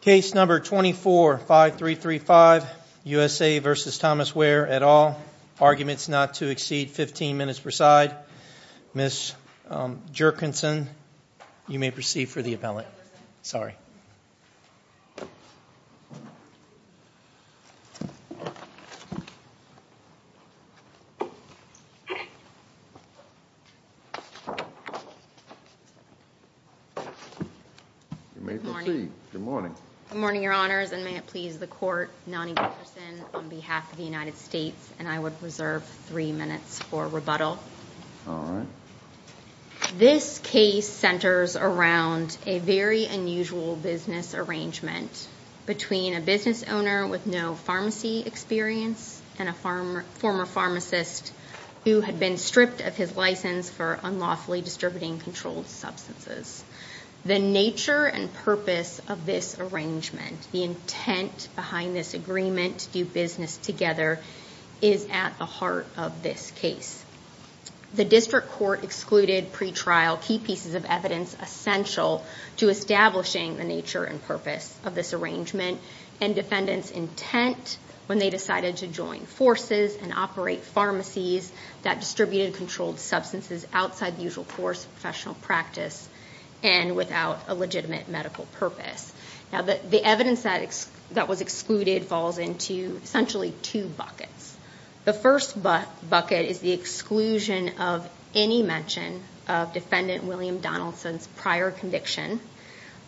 Case number 24-5335, USA v. Thomas Weir, et al. Arguments not to exceed 15 minutes per side. Ms. Jerkinson, you may proceed for the appellate. Good morning, Your Honors, and may it please the Court, Nonnie Jefferson on behalf of the United States, and I would reserve three minutes for rebuttal. This case centers around a very unusual business arrangement between a business owner with no pharmacy experience and a former pharmacist who had been stripped of his license for unlawfully distributing controlled substances. The nature and purpose of this arrangement, the intent behind this agreement to do business together, is at the heart of this case. The District Court excluded pre-trial key pieces of evidence essential to establishing the nature and purpose of this arrangement and defendants' intent when they decided to join forces and operate pharmacies that distributed controlled substances outside the usual course of professional practice and without a legitimate medical purpose. The evidence that was excluded falls into essentially two buckets. The first bucket is the exclusion of any mention of Defendant William Donaldson's prior conviction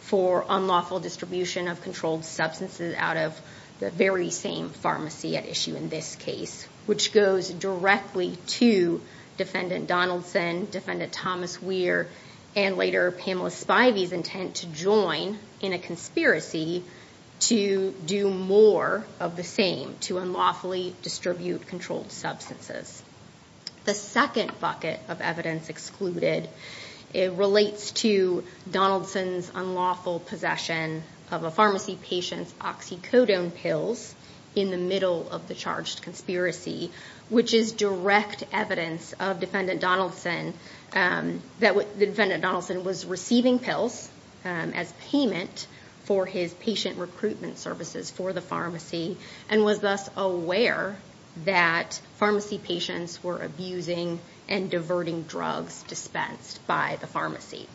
for unlawful distribution of controlled substances out of the very same pharmacy at issue in this case, which goes directly to Defendant Donaldson, Defendant Thomas Weir, and later Pamela Spivey's intent to join in a conspiracy to do more of the same, to unlawfully distribute controlled substances. The second bucket of evidence excluded relates to Donaldson's unlawful possession of a pharmacy patient's oxycodone pills in the middle of the charged conspiracy, which is direct evidence that Defendant Donaldson was receiving pills as payment for his patient recruitment services for the pharmacy and was thus aware that pharmacy patients were abusing and diverting drugs dispensed by the pharmacy.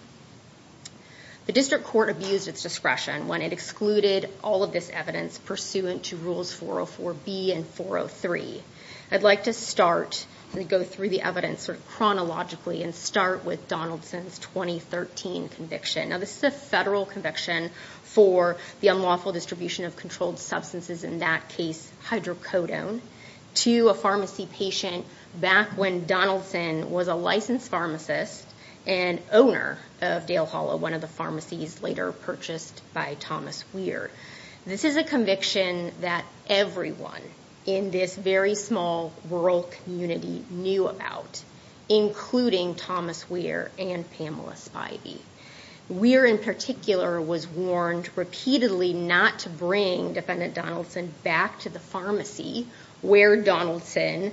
The District Court abused its discretion when it excluded all of this evidence pursuant to Rules 404B and 403. I'd like to start and go through the evidence chronologically and start with Donaldson's 2013 conviction. Now, this is a federal conviction for the unlawful distribution of controlled substances, in that case hydrocodone, to a pharmacy patient back when Donaldson was a licensed pharmacist and owner of Dale Hollow, one of the pharmacies later purchased by Thomas Weir. This is a conviction that everyone in this very small rural community knew about, including Thomas Weir and Pamela Spivey. Weir in particular was warned repeatedly not to bring Defendant Donaldson back to the pharmacy where Donaldson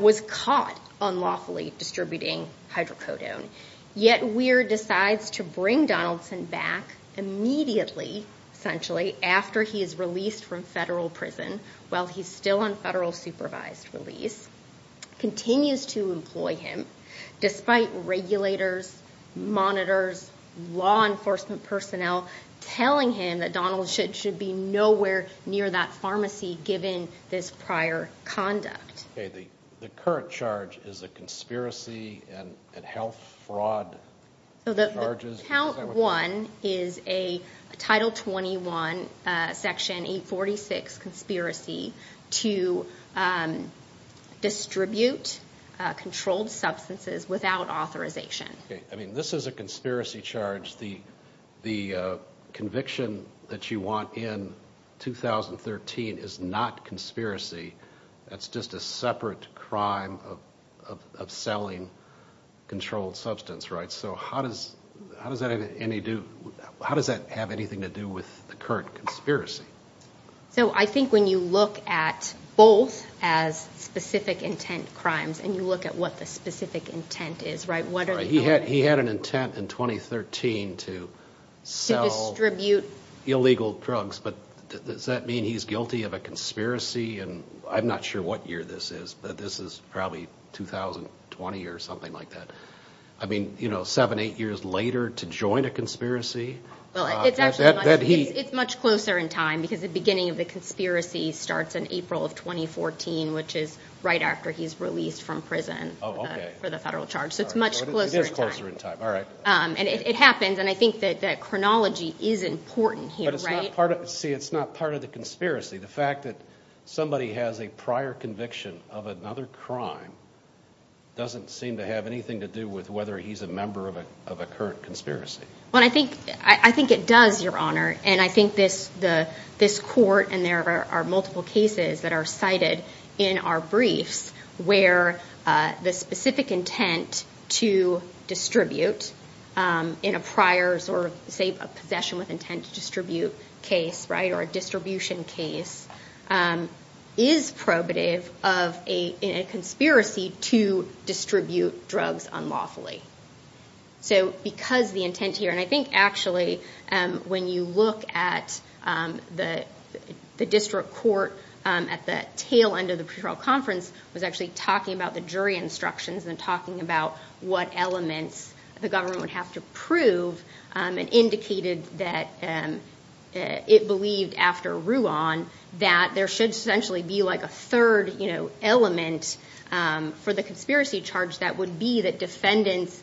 was caught unlawfully distributing hydrocodone. Yet Weir decides to bring Donaldson back immediately, essentially, after he is released from federal prison while he's still on federal supervised release, continues to employ him despite regulators, monitors, law enforcement personnel telling him that Donaldson should be nowhere near that pharmacy given this prior conduct. The current charge is a conspiracy and health fraud charges? Count 1 is a Title 21, Section 846 conspiracy to distribute controlled substances without authorization. This is a conspiracy charge. The conviction that you want in 2013 is not conspiracy. That's just a separate crime of selling controlled substance. How does that have anything to do with the current conspiracy? So I think when you look at both as specific intent crimes and you look at what the specific intent is, right? He had an intent in 2013 to sell illegal drugs, but does that mean he's guilty of a conspiracy? And I'm not sure what year this is, but this is probably 2020 or something like that. I mean, you know, seven, eight years later to join a conspiracy. It's much closer in time because the beginning of the conspiracy starts in April of 2014, which is right after he's released from prison for the federal charge. So it's much closer in time. It is closer in time. All right. And it happens. And I think that chronology is important here. But it's not part of the conspiracy. The fact that somebody has a prior conviction of another crime doesn't seem to have anything to do with whether he's a member of a current conspiracy. Well, I think I think it does, Your Honor. And I think this the this court and there are multiple cases that are cited in our briefs where the specific intent to distribute in a prior or say a possession with intent to distribute case. Right. Or a distribution case is probative of a conspiracy to distribute drugs unlawfully. So because the intent here and I think actually when you look at the district court at the tail end of the conference was actually talking about the jury instructions and talking about what elements the government would have to prove and indicated that it believed after Ruan that there should essentially be like a third element for the conspiracy charge. That would be that defendants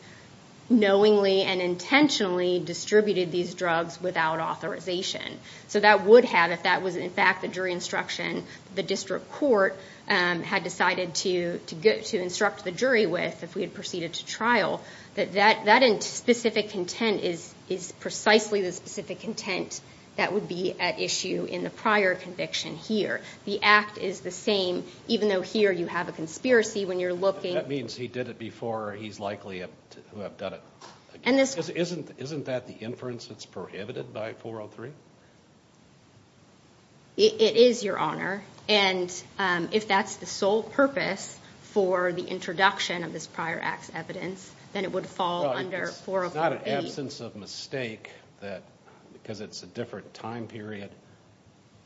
knowingly and intentionally distributed these drugs without authorization. So that would have if that was, in fact, the jury instruction. The district court had decided to get to instruct the jury with if we had proceeded to trial that that that specific intent is is precisely the specific intent that would be at issue in the prior conviction here. The act is the same, even though here you have a conspiracy when you're looking. That means he did it before. He's likely to have done it. And this isn't. Isn't that the inference that's prohibited by 403? It is your honor. And if that's the sole purpose for the introduction of this prior acts evidence, then it would fall under 408. It's not an absence of mistake that because it's a different time period.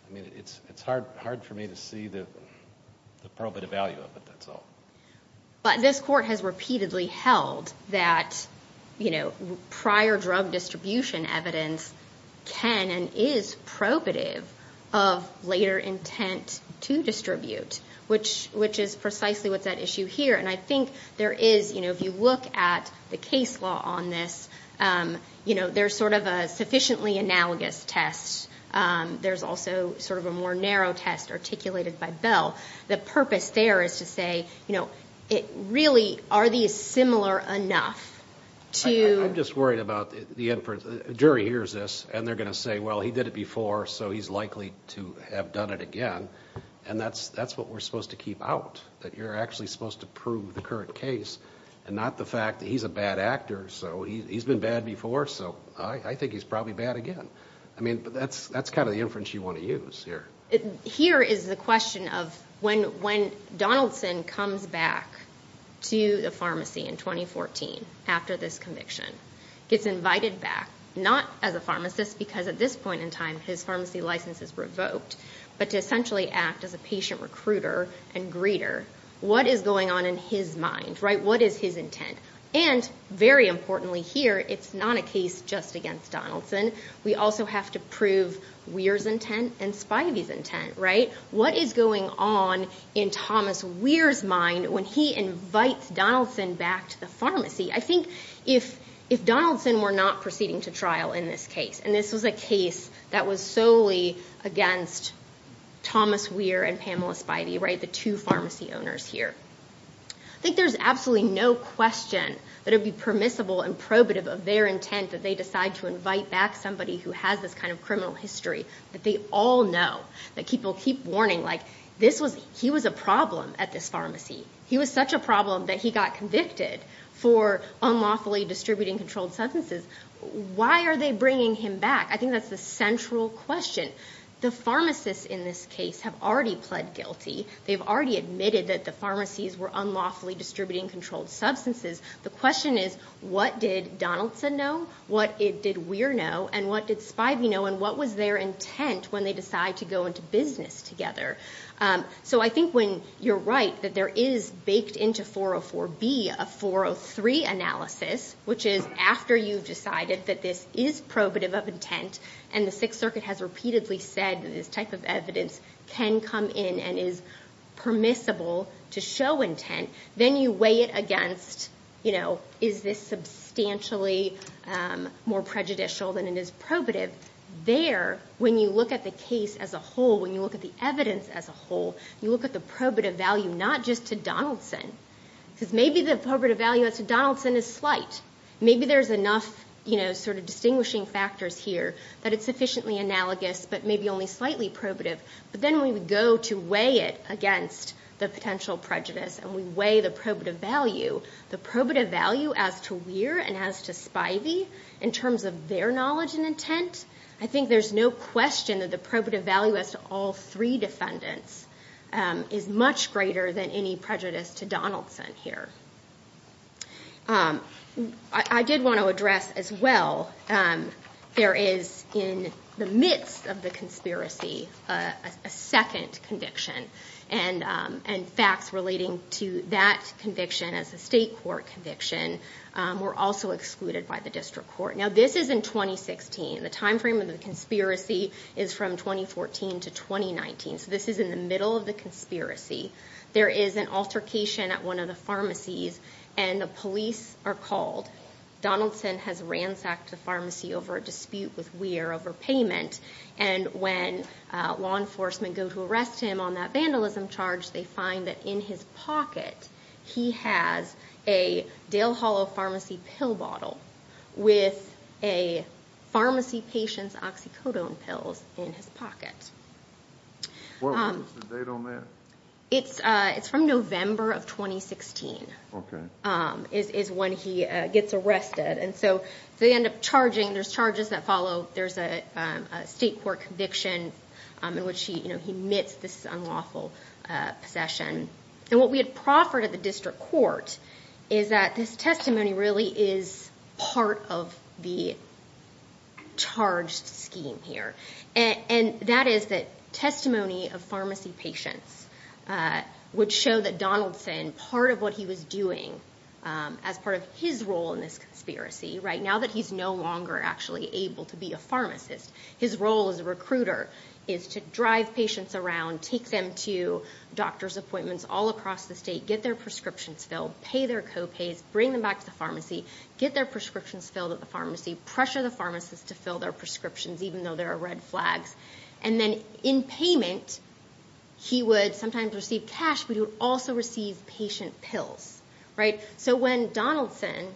I mean, it's it's hard hard for me to see the probative value of it. That's all. But this court has repeatedly held that, you know, prior drug distribution evidence can and is probative of later intent to distribute, which which is precisely what's at issue here. And I think there is, you know, if you look at the case law on this, you know, there's sort of a sufficiently analogous test. There's also sort of a more narrow test articulated by Bell. The purpose there is to say, you know, it really are these similar enough to just worried about the jury hears this and they're going to say, well, he did it before. So he's likely to have done it again. And that's that's what we're supposed to keep out, that you're actually supposed to prove the current case and not the fact that he's a bad actor. So he's been bad before. So I think he's probably bad again. I mean, that's that's kind of the inference you want to use here. Here is the question of when when Donaldson comes back to the pharmacy in 2014 after this conviction, gets invited back, not as a pharmacist, because at this point in time, his pharmacy license is revoked. But to essentially act as a patient recruiter and greeter. What is going on in his mind? Right. What is his intent? And very importantly here, it's not a case just against Donaldson. We also have to prove Weir's intent and Spivey's intent. Right. What is going on in Thomas Weir's mind when he invites Donaldson back to the pharmacy? I think if if Donaldson were not proceeding to trial in this case, and this was a case that was solely against Thomas Weir and Pamela Spivey, right, the two pharmacy owners here. I think there's absolutely no question that it'd be permissible and probative of their intent that they decide to invite back somebody who has this kind of criminal history that they all know. That people keep warning like this was he was a problem at this pharmacy. He was such a problem that he got convicted for unlawfully distributing controlled substances. Why are they bringing him back? I think that's the central question. The pharmacists in this case have already pled guilty. They've already admitted that the pharmacies were unlawfully distributing controlled substances. The question is, what did Donaldson know? What did Weir know? And what did Spivey know? And what was their intent when they decide to go into business together? So I think when you're right that there is baked into 404B a 403 analysis, which is after you've decided that this is probative of intent. And the Sixth Circuit has repeatedly said that this type of evidence can come in and is permissible to show intent. Then you weigh it against, you know, is this substantially more prejudicial than it is probative? There, when you look at the case as a whole, when you look at the evidence as a whole, you look at the probative value not just to Donaldson. Because maybe the probative value to Donaldson is slight. Maybe there's enough, you know, sort of distinguishing factors here that it's sufficiently analogous but maybe only slightly probative. But then we would go to weigh it against the potential prejudice. And we weigh the probative value. The probative value as to Weir and as to Spivey in terms of their knowledge and intent, I think there's no question that the probative value as to all three defendants is much greater than any prejudice to Donaldson here. I did want to address as well there is in the midst of the conspiracy a second conviction and facts relating to that conviction as a state court conviction were also excluded by the district court. Now this is in 2016. The time frame of the conspiracy is from 2014 to 2019. So this is in the middle of the conspiracy. There is an altercation at one of the pharmacies and the police are called. Donaldson has ransacked the pharmacy over a dispute with Weir over payment. And when law enforcement go to arrest him on that vandalism charge, they find that in his pocket, he has a Dale Hollow Pharmacy pill bottle with a pharmacy patient's oxycodone pills in his pocket. What was the date on that? It's from November of 2016 is when he gets arrested. And so they end up charging. There's charges that follow. There's a state court conviction in which he admits this unlawful possession. And what we had proffered at the district court is that this testimony really is part of the charged scheme here. And that is that testimony of pharmacy patients would show that Donaldson, part of what he was doing as part of his role in this conspiracy right now that he's no longer actually able to be a pharmacist, his role as a recruiter is to drive patients around, take them to doctor's appointments all across the state, get their prescriptions filled, pay their copays, bring them back to the pharmacy, get their prescriptions filled at the pharmacy, pressure the pharmacist to fill their prescriptions, even though there are red flags. And then in payment, he would sometimes receive cash, but he would also receive patient pills. So when Donaldson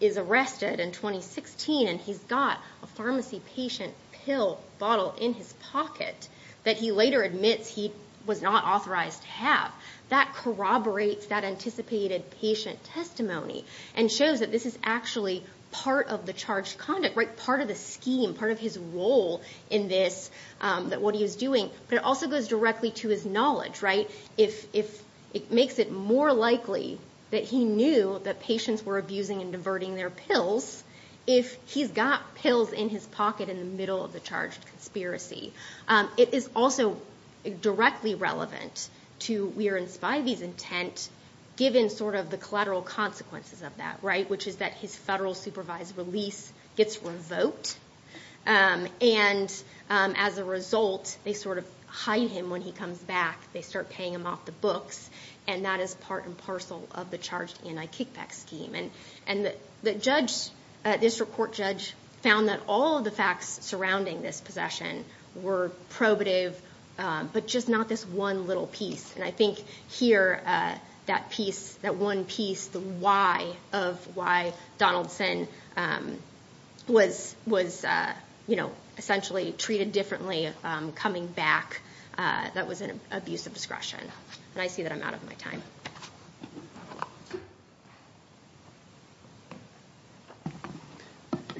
is arrested in 2016 and he's got a pharmacy patient pill bottle in his pocket that he later admits he was not authorized to have, that corroborates that anticipated patient testimony and shows that this is actually part of the charged conduct, part of the scheme, part of his role in this, what he was doing. But it also goes directly to his knowledge. It makes it more likely that he knew that patients were abusing and diverting their pills if he's got pills in his pocket in the middle of the charged conspiracy. It is also directly relevant to Weir and Spivey's intent, given sort of the collateral consequences of that, right, which is that his federal supervised release gets revoked. And as a result, they sort of hide him when he comes back. They start paying him off the books, and that is part and parcel of the charged anti-kickback scheme. And the district court judge found that all of the facts surrounding this possession were probative, but just not this one little piece. And I think here that one piece, the why of why Donaldson was essentially treated differently coming back, that was an abuse of discretion. And I see that I'm out of my time.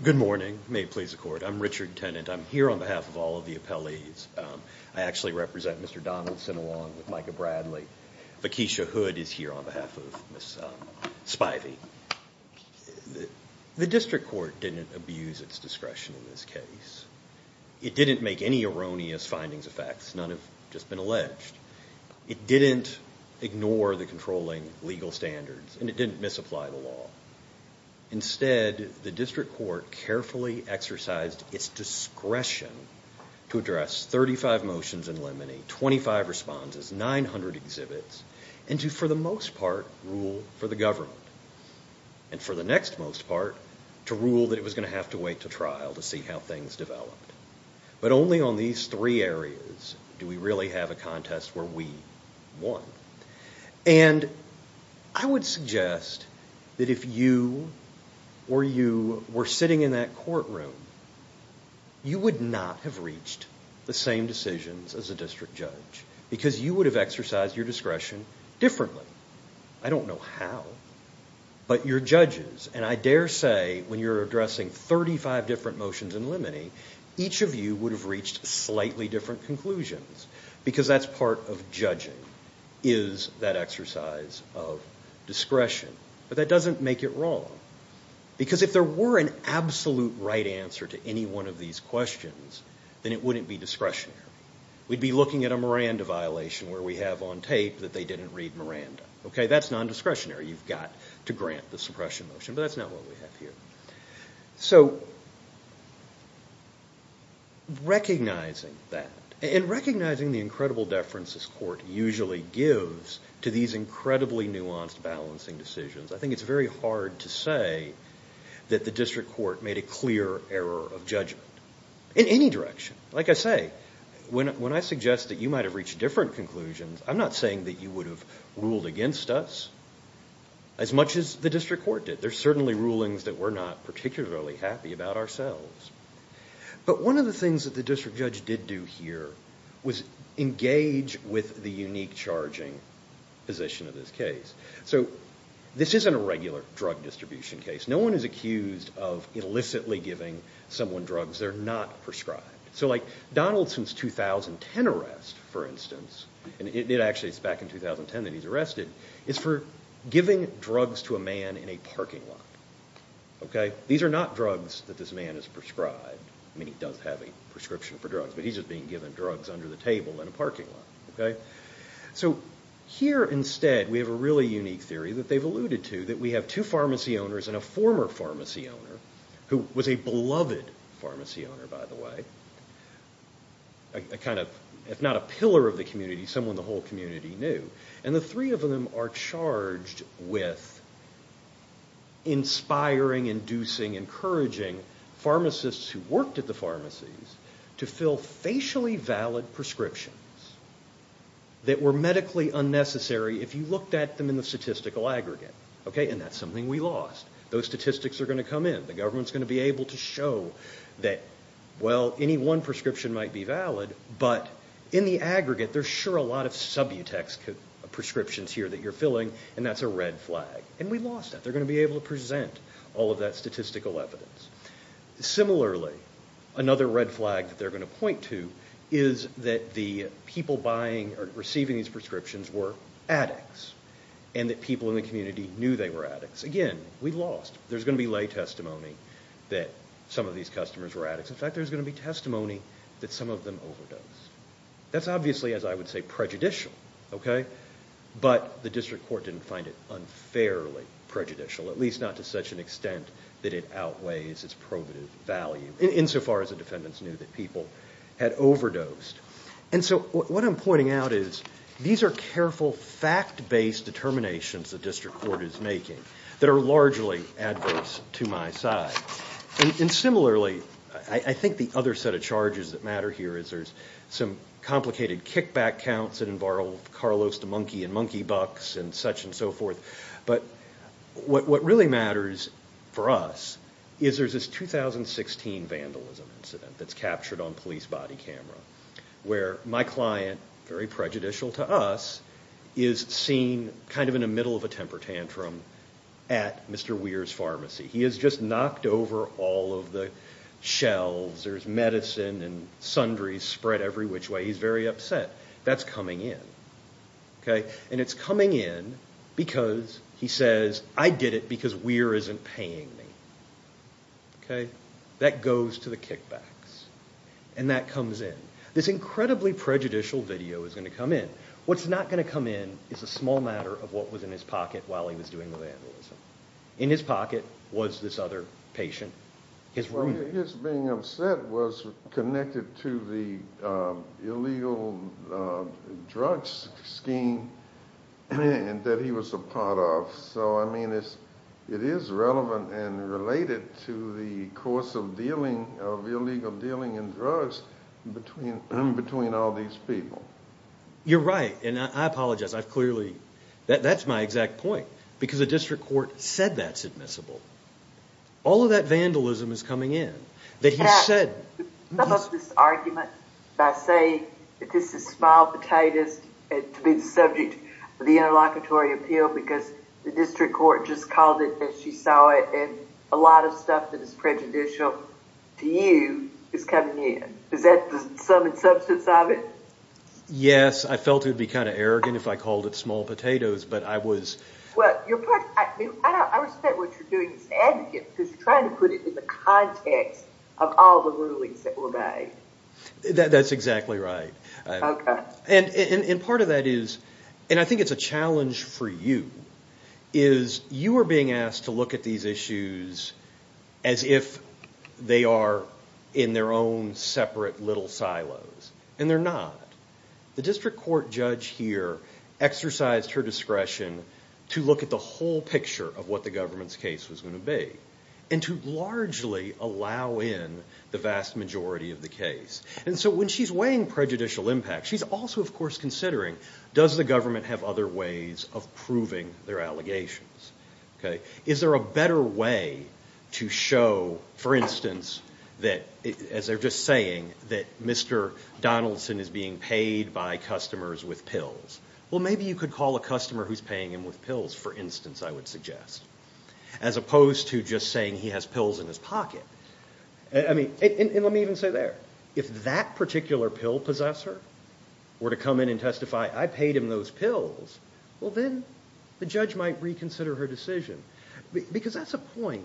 Good morning. May it please the court. I'm Richard Tennant. I'm here on behalf of all of the appellees. I actually represent Mr. Donaldson along with Micah Bradley. Vickisha Hood is here on behalf of Ms. Spivey. The district court didn't abuse its discretion in this case. It didn't make any erroneous findings of facts. None have just been alleged. It didn't ignore the controlling legal standards, and it didn't misapply the law. Instead, the district court carefully exercised its discretion to address 35 motions in limine, 25 responses, 900 exhibits, and to, for the most part, rule for the government. And for the next most part, to rule that it was going to have to wait to trial to see how things developed. But only on these three areas do we really have a contest where we won. And I would suggest that if you or you were sitting in that courtroom, you would not have reached the same decisions as a district judge because you would have exercised your discretion differently. I don't know how. But your judges, and I dare say when you're addressing 35 different motions in limine, each of you would have reached slightly different conclusions because that's part of judging, is that exercise of discretion. But that doesn't make it wrong. Because if there were an absolute right answer to any one of these questions, then it wouldn't be discretionary. We'd be looking at a Miranda violation where we have on tape that they didn't read Miranda. That's non-discretionary. You've got to grant the suppression motion. But that's not what we have here. So recognizing that and recognizing the incredible deference this court usually gives to these incredibly nuanced balancing decisions, I think it's very hard to say that the district court made a clear error of judgment in any direction. Like I say, when I suggest that you might have reached different conclusions, I'm not saying that you would have ruled against us as much as the district court did. There's certainly rulings that we're not particularly happy about ourselves. But one of the things that the district judge did do here was engage with the unique charging position of this case. So this isn't a regular drug distribution case. No one is accused of illicitly giving someone drugs. They're not prescribed. So like Donaldson's 2010 arrest, for instance, and it actually is back in 2010 that he's arrested, is for giving drugs to a man in a parking lot. These are not drugs that this man has prescribed. I mean, he does have a prescription for drugs, but he's just being given drugs under the table in a parking lot. So here instead we have a really unique theory that they've alluded to, that we have two pharmacy owners and a former pharmacy owner, who was a beloved pharmacy owner, by the way. A kind of, if not a pillar of the community, someone the whole community knew. And the three of them are charged with inspiring, inducing, encouraging pharmacists who worked at the pharmacies to fill facially valid prescriptions that were medically unnecessary if you looked at them in the statistical aggregate. Okay, and that's something we lost. Those statistics are going to come in. The government's going to be able to show that, well, any one prescription might be valid, but in the aggregate there's sure a lot of subutex prescriptions here that you're filling, and that's a red flag. And we lost that. They're going to be able to present all of that statistical evidence. Similarly, another red flag that they're going to point to is that the people buying or receiving these prescriptions were addicts, and that people in the community knew they were addicts. Again, we lost. There's going to be lay testimony that some of these customers were addicts. In fact, there's going to be testimony that some of them overdosed. That's obviously, as I would say, prejudicial, okay? But the district court didn't find it unfairly prejudicial, at least not to such an extent that it outweighs its probative value, insofar as the defendants knew that people had overdosed. And so what I'm pointing out is these are careful, fact-based determinations the district court is making that are largely adverse to my side. And similarly, I think the other set of charges that matter here is there's some complicated kickback counts that involve Carlos the monkey and monkey bucks and such and so forth. But what really matters for us is there's this 2016 vandalism incident that's captured on police body camera where my client, very prejudicial to us, is seen kind of in the middle of a temper tantrum at Mr. Weir's pharmacy. He has just knocked over all of the shelves. There's medicine and sundries spread every which way. He's very upset. That's coming in, okay? And it's coming in because he says, I did it because Weir isn't paying me, okay? That goes to the kickbacks. And that comes in. This incredibly prejudicial video is going to come in. What's not going to come in is a small matter of what was in his pocket while he was doing the vandalism. In his pocket was this other patient, his roommate. His being upset was connected to the illegal drugs scheme that he was a part of. So, I mean, it is relevant and related to the course of dealing, of illegal dealing in drugs between all these people. You're right, and I apologize. I've clearly, that's my exact point. Because the district court said that's admissible. All of that vandalism is coming in. Some of this argument by saying that this is small potatoes to be the subject of the interlocutory appeal because the district court just called it as she saw it and a lot of stuff that is prejudicial to you is coming in. Is that the sum and substance of it? Yes, I felt it would be kind of arrogant if I called it small potatoes, but I was... I respect what you're doing as an advocate because you're trying to put it in the context of all the rulings that were made. That's exactly right. And part of that is, and I think it's a challenge for you, is you are being asked to look at these issues as if they are in their own separate little silos, and they're not. The district court judge here exercised her discretion to look at the whole picture of what the government's case was going to be and to largely allow in the vast majority of the case. And so when she's weighing prejudicial impact, she's also, of course, considering, does the government have other ways of proving their allegations? Is there a better way to show, for instance, that, as they're just saying, that Mr. Donaldson is being paid by customers with pills? Well, maybe you could call a customer who's paying him with pills, for instance, I would suggest, as opposed to just saying he has pills in his pocket. And let me even say there, if that particular pill possessor were to come in and testify, I paid him those pills, well, then the judge might reconsider her decision. Because that's a point.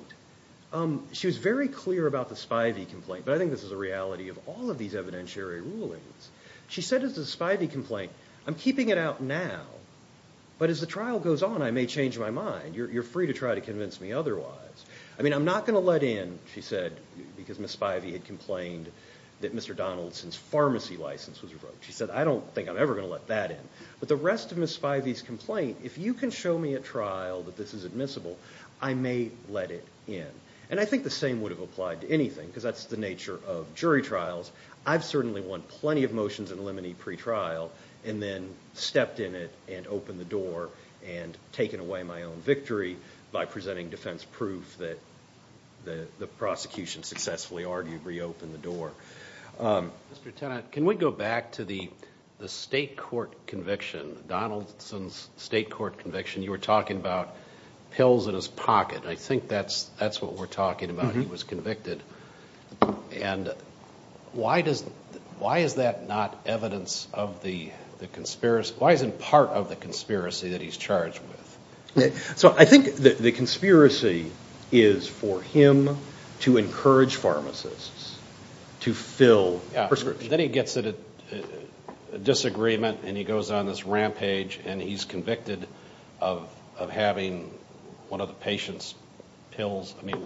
She was very clear about the Spivey complaint, but I think this is a reality of all of these evidentiary rulings. She said as to the Spivey complaint, I'm keeping it out now, but as the trial goes on, I may change my mind. You're free to try to convince me otherwise. I mean, I'm not going to let in, she said, because Ms. Spivey had complained that Mr. Donaldson's pharmacy license was revoked. She said, I don't think I'm ever going to let that in. But the rest of Ms. Spivey's complaint, if you can show me at trial that this is admissible, I may let it in. And I think the same would have applied to anything, because that's the nature of jury trials. I've certainly won plenty of motions in limine pre-trial and then stepped in it and opened the door and taken away my own victory by presenting defense proof that the prosecution successfully argued reopened the door. Mr. Tennant, can we go back to the state court conviction, Donaldson's state court conviction? You were talking about pills in his pocket. I think that's what we're talking about. He was convicted. And why is that not evidence of the conspiracy? Why isn't part of the conspiracy that he's charged with? So I think the conspiracy is for him to encourage pharmacists to fill prescriptions. Then he gets a disagreement and he goes on this rampage and he's convicted of having one of the patient's pills. I mean,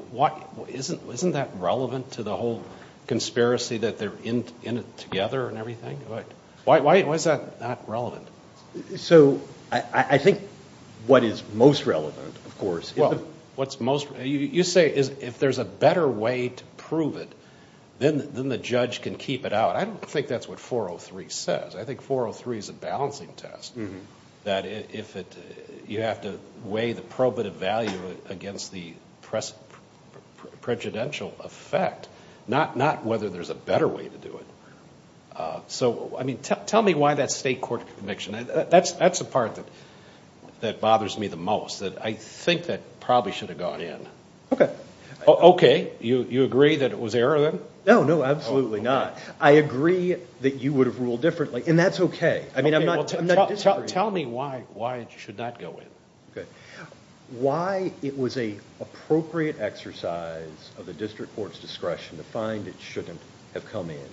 isn't that relevant to the whole conspiracy that they're in it together and everything? Why is that not relevant? So I think what is most relevant, of course, is the- You say if there's a better way to prove it, then the judge can keep it out. I don't think that's what 403 says. I think 403 is a balancing test, that you have to weigh the probative value against the prejudicial effect, not whether there's a better way to do it. Tell me why that state court conviction. That's the part that bothers me the most. I think that probably should have gone in. Okay? You agree that it was error then? No, no, absolutely not. I agree that you would have ruled differently, and that's okay. Tell me why it should not go in. Why it was an appropriate exercise of the district court's discretion to find it shouldn't have come in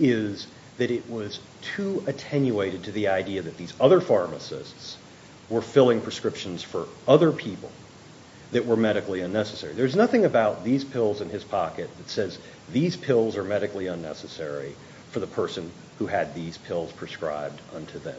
is that it was too attenuated to the idea that these other pharmacists were filling prescriptions for other people that were medically unnecessary. There's nothing about these pills in his pocket that says these pills are medically unnecessary for the person who had these pills prescribed unto them.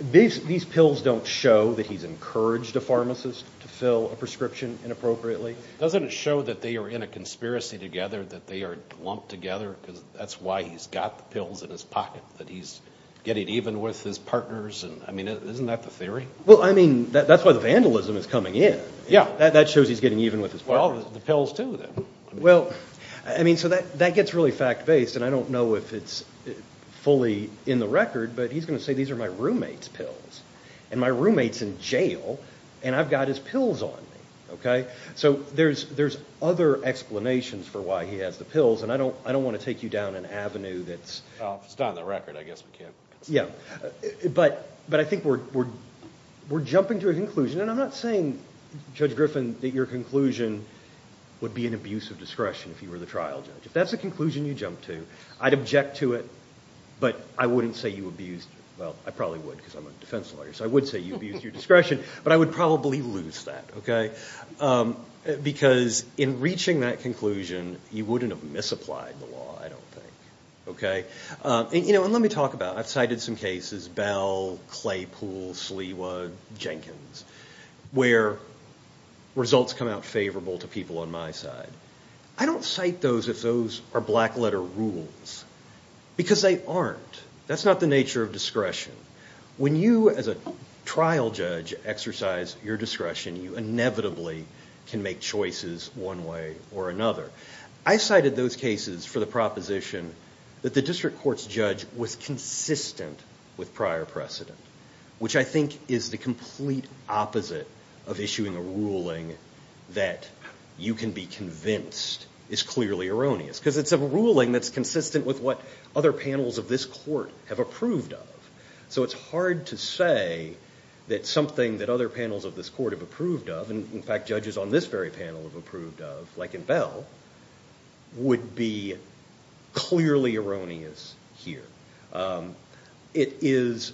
These pills don't show that he's encouraged a pharmacist to fill a prescription inappropriately. Doesn't it show that they are in a conspiracy together, that they are lumped together, because that's why he's got the pills in his pocket, that he's getting even with his partners? I mean, isn't that the theory? Well, I mean, that's why the vandalism is coming in. Yeah. That shows he's getting even with his partners. Well, the pills too, then. Well, I mean, so that gets really fact-based, and I don't know if it's fully in the record, but he's going to say these are my roommate's pills, and my roommate's in jail, and I've got his pills on me. Okay? So there's other explanations for why he has the pills, and I don't want to take you down an avenue that's... Well, if it's not in the record, I guess we can't... Yeah. But I think we're jumping to a conclusion, and I'm not saying, Judge Griffin, that your conclusion would be an abuse of discretion if you were the trial judge. If that's the conclusion you jump to, I'd object to it, but I wouldn't say you abused... Well, I probably would, because I'm a defense lawyer, so I would say you abused your discretion, but I would probably lose that, okay? Because in reaching that conclusion, you wouldn't have misapplied the law, I don't think. Okay? You know, and let me talk about... I've cited some cases, Bell, Claypool, Sliwa, Jenkins, where results come out favorable to people on my side. I don't cite those if those are black-letter rules, because they aren't. That's not the nature of discretion. When you, as a trial judge, exercise your discretion, you inevitably can make choices one way or another. I cited those cases for the proposition that the district court's judge was consistent with prior precedent, which I think is the complete opposite of issuing a ruling that you can be convinced is clearly erroneous, because it's a ruling that's consistent with what other panels of this court have approved of. So it's hard to say that something that other panels of this court have approved of, and in fact judges on this very panel have approved of, like in Bell, would be clearly erroneous here. It is,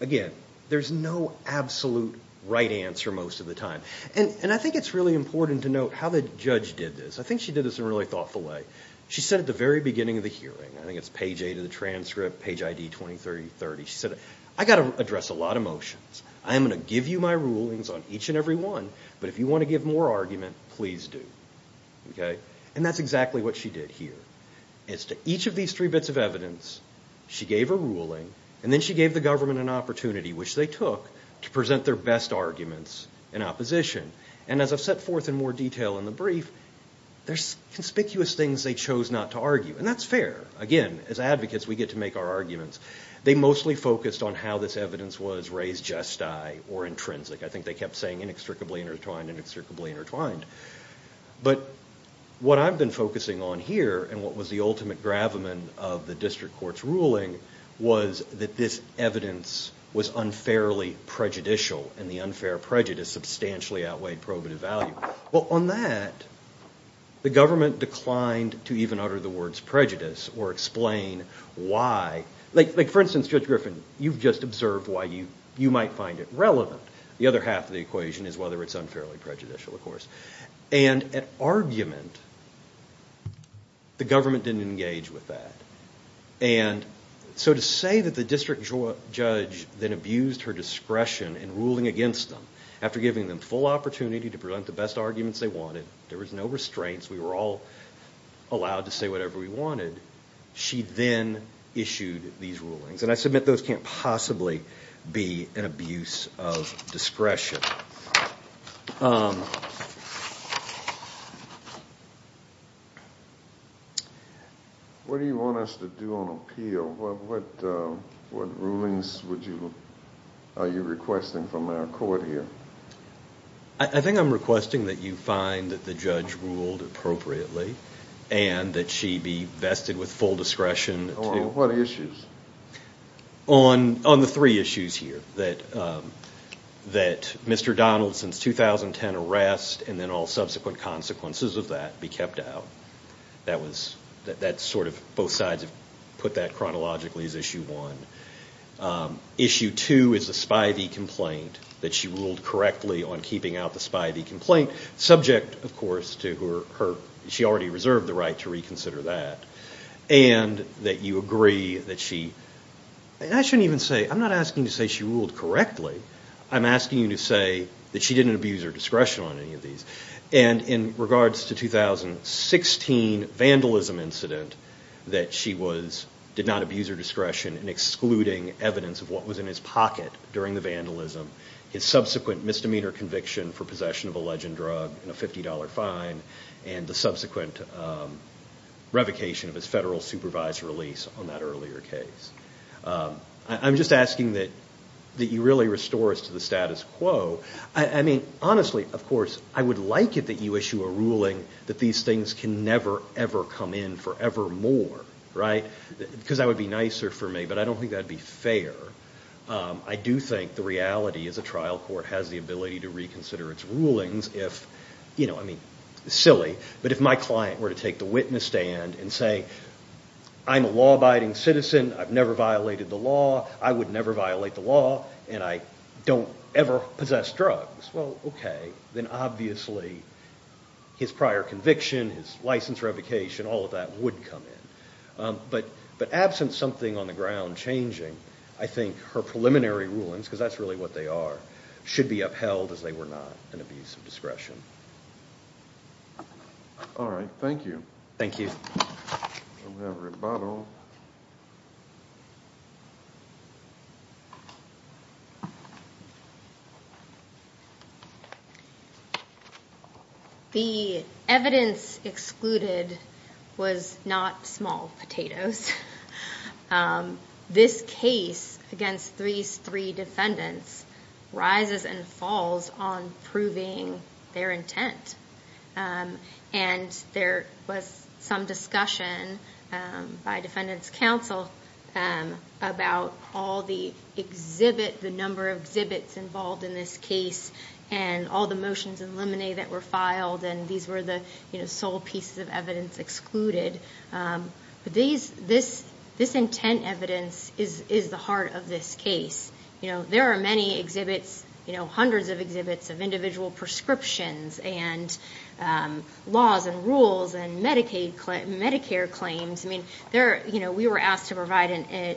again, there's no absolute right answer most of the time. And I think it's really important to note how the judge did this. I think she did this in a really thoughtful way. She said at the very beginning of the hearing, I think it's page 8 of the transcript, page ID 2030, she said, I've got to address a lot of motions. I am going to give you my rulings on each and every one, but if you want to give more argument, please do. And that's exactly what she did here. As to each of these three bits of evidence, she gave a ruling, and then she gave the government an opportunity, which they took, to present their best arguments in opposition. And as I've set forth in more detail in the brief, there's conspicuous things they chose not to argue. And that's fair. Again, as advocates, we get to make our arguments. They mostly focused on how this evidence was raised jest-I, or intrinsic. I think they kept saying inextricably intertwined, inextricably intertwined. But what I've been focusing on here, and what was the ultimate gravamen of the district court's ruling, was that this evidence was unfairly prejudicial, and the unfair prejudice substantially outweighed probative value. Well, on that, the government declined to even utter the words prejudice, or explain why. Like, for instance, Judge Griffin, you've just observed why you might find it relevant. The other half of the equation is whether it's unfairly prejudicial, of course. And at argument, the government didn't engage with that. And so to say that the district judge then abused her discretion in ruling against them, after giving them full opportunity to present the best arguments they wanted, there was no restraints, we were all allowed to say whatever we wanted, she then issued these rulings. And I submit those can't possibly be an abuse of discretion. What do you want us to do on appeal? What rulings are you requesting from our court here? I think I'm requesting that you find that the judge ruled appropriately, and that she be vested with full discretion. On what issues? On the three issues here, that Mr. Donaldson's 2010 arrest, and then all subsequent consequences of that, be kept out. Both sides have put that chronologically as issue one. Issue two is the Spivey complaint, that she ruled correctly on keeping out the Spivey complaint, subject, of course, to her, she already reserved the right to reconsider that. And that you agree that she, and I shouldn't even say, I'm not asking you to say she ruled correctly, I'm asking you to say that she didn't abuse her discretion on any of these. And in regards to the 2016 vandalism incident, that she did not abuse her discretion in excluding evidence of what was in his pocket during the vandalism, his subsequent misdemeanor conviction for possession of a legend drug and a $50 fine, and the subsequent revocation of his federal supervised release on that earlier case. I'm just asking that you really restore us to the status quo. I mean, honestly, of course, I would like it that you issue a ruling that these things can never, ever come in forevermore, right? Because that would be nicer for me, but I don't think that would be fair. I do think the reality is a trial court has the ability to reconsider its rulings if, I mean, silly, but if my client were to take the witness stand and say, I'm a law-abiding citizen, I've never violated the law, I would never violate the law, and I don't ever possess drugs. Well, okay, then obviously his prior conviction, his license revocation, all of that would come in. But absent something on the ground changing, I think her preliminary rulings, because that's really what they are, should be upheld as they were not an abuse of discretion. All right, thank you. Thank you. We'll have rebuttal. The evidence excluded was not small potatoes. This case against these three defendants rises and falls on proving their intent. And there was some discussion by defendants' counsel about all the exhibit, the number of exhibits involved in this case and all the motions and limine that were filed, and these were the sole pieces of evidence excluded. But this intent evidence is the heart of this case. You know, there are many exhibits, you know, hundreds of exhibits of individual prescriptions and laws and rules and Medicare claims. I mean, we were asked to provide a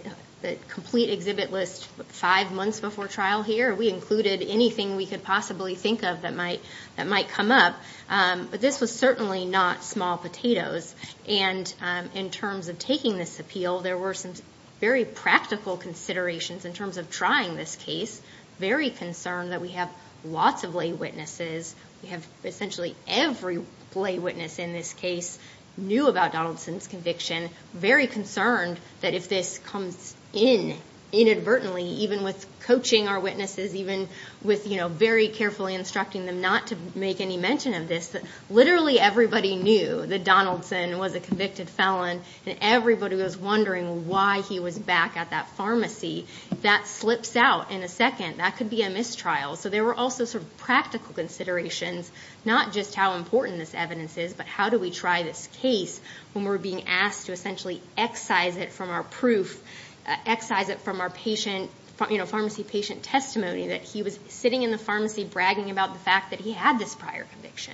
complete exhibit list five months before trial here. We included anything we could possibly think of that might come up. But this was certainly not small potatoes. And in terms of taking this appeal, there were some very practical considerations in terms of trying this case, very concerned that we have lots of lay witnesses. We have essentially every lay witness in this case knew about Donaldson's conviction, very concerned that if this comes in inadvertently, even with coaching our witnesses, even with, you know, very carefully instructing them not to make any mention of this, that literally everybody knew that Donaldson was a convicted felon, and everybody was wondering why he was back at that pharmacy. If that slips out in a second, that could be a mistrial. So there were also sort of practical considerations, not just how important this evidence is, but how do we try this case when we're being asked to essentially excise it from our proof, excise it from our pharmacy patient testimony, that he was sitting in the pharmacy bragging about the fact that he had this prior conviction.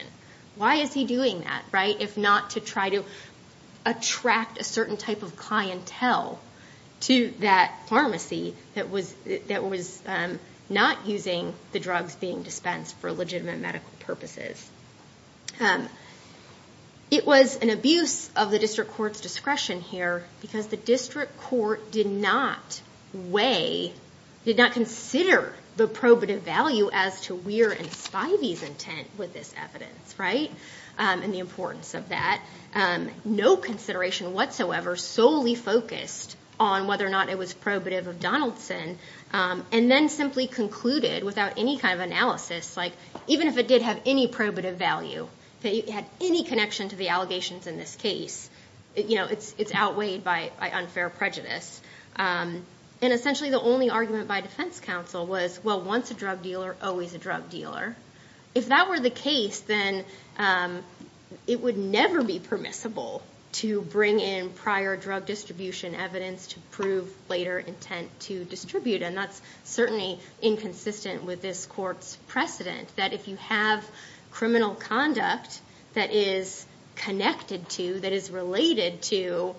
Why is he doing that, right, if not to try to attract a certain type of clientele to that pharmacy that was not using the drugs being dispensed for legitimate medical purposes? It was an abuse of the district court's discretion here because the district court did not weigh, did not consider the probative value as to Weir and Spivey's intent with this evidence, right, and the importance of that. No consideration whatsoever solely focused on whether or not it was probative of Donaldson, and then simply concluded without any kind of analysis, like even if it did have any probative value, if it had any connection to the allegations in this case, you know, it's outweighed by unfair prejudice. And essentially the only argument by defense counsel was, well, once a drug dealer, always a drug dealer. If that were the case, then it would never be permissible to bring in prior drug distribution evidence to prove later intent to distribute. And that's certainly inconsistent with this court's precedent, that if you have criminal conduct that is connected to, that is related to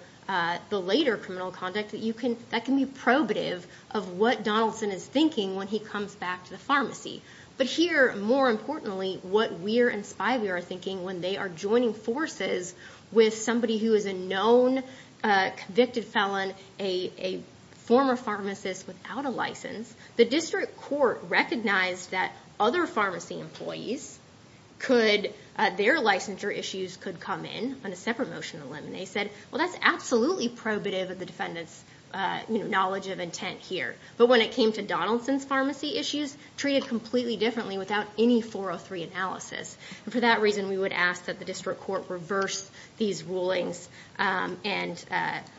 the later criminal conduct, that can be probative of what Donaldson is thinking when he comes back to the pharmacy. But here, more importantly, what Weir and Spivey are thinking when they are joining forces with somebody who is a known convicted felon, a former pharmacist without a license, the district court recognized that other pharmacy employees could, their licensure issues could come in on a separate motion to them. And they said, well, that's absolutely probative of the defendant's, you know, knowledge of intent here. But when it came to Donaldson's pharmacy issues, treated completely differently without any 403 analysis. And for that reason, we would ask that the district court reverse these rulings and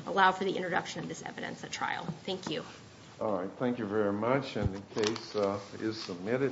allow for the introduction of this evidence at trial. Thank you. All right. Thank you very much. And the case is submitted.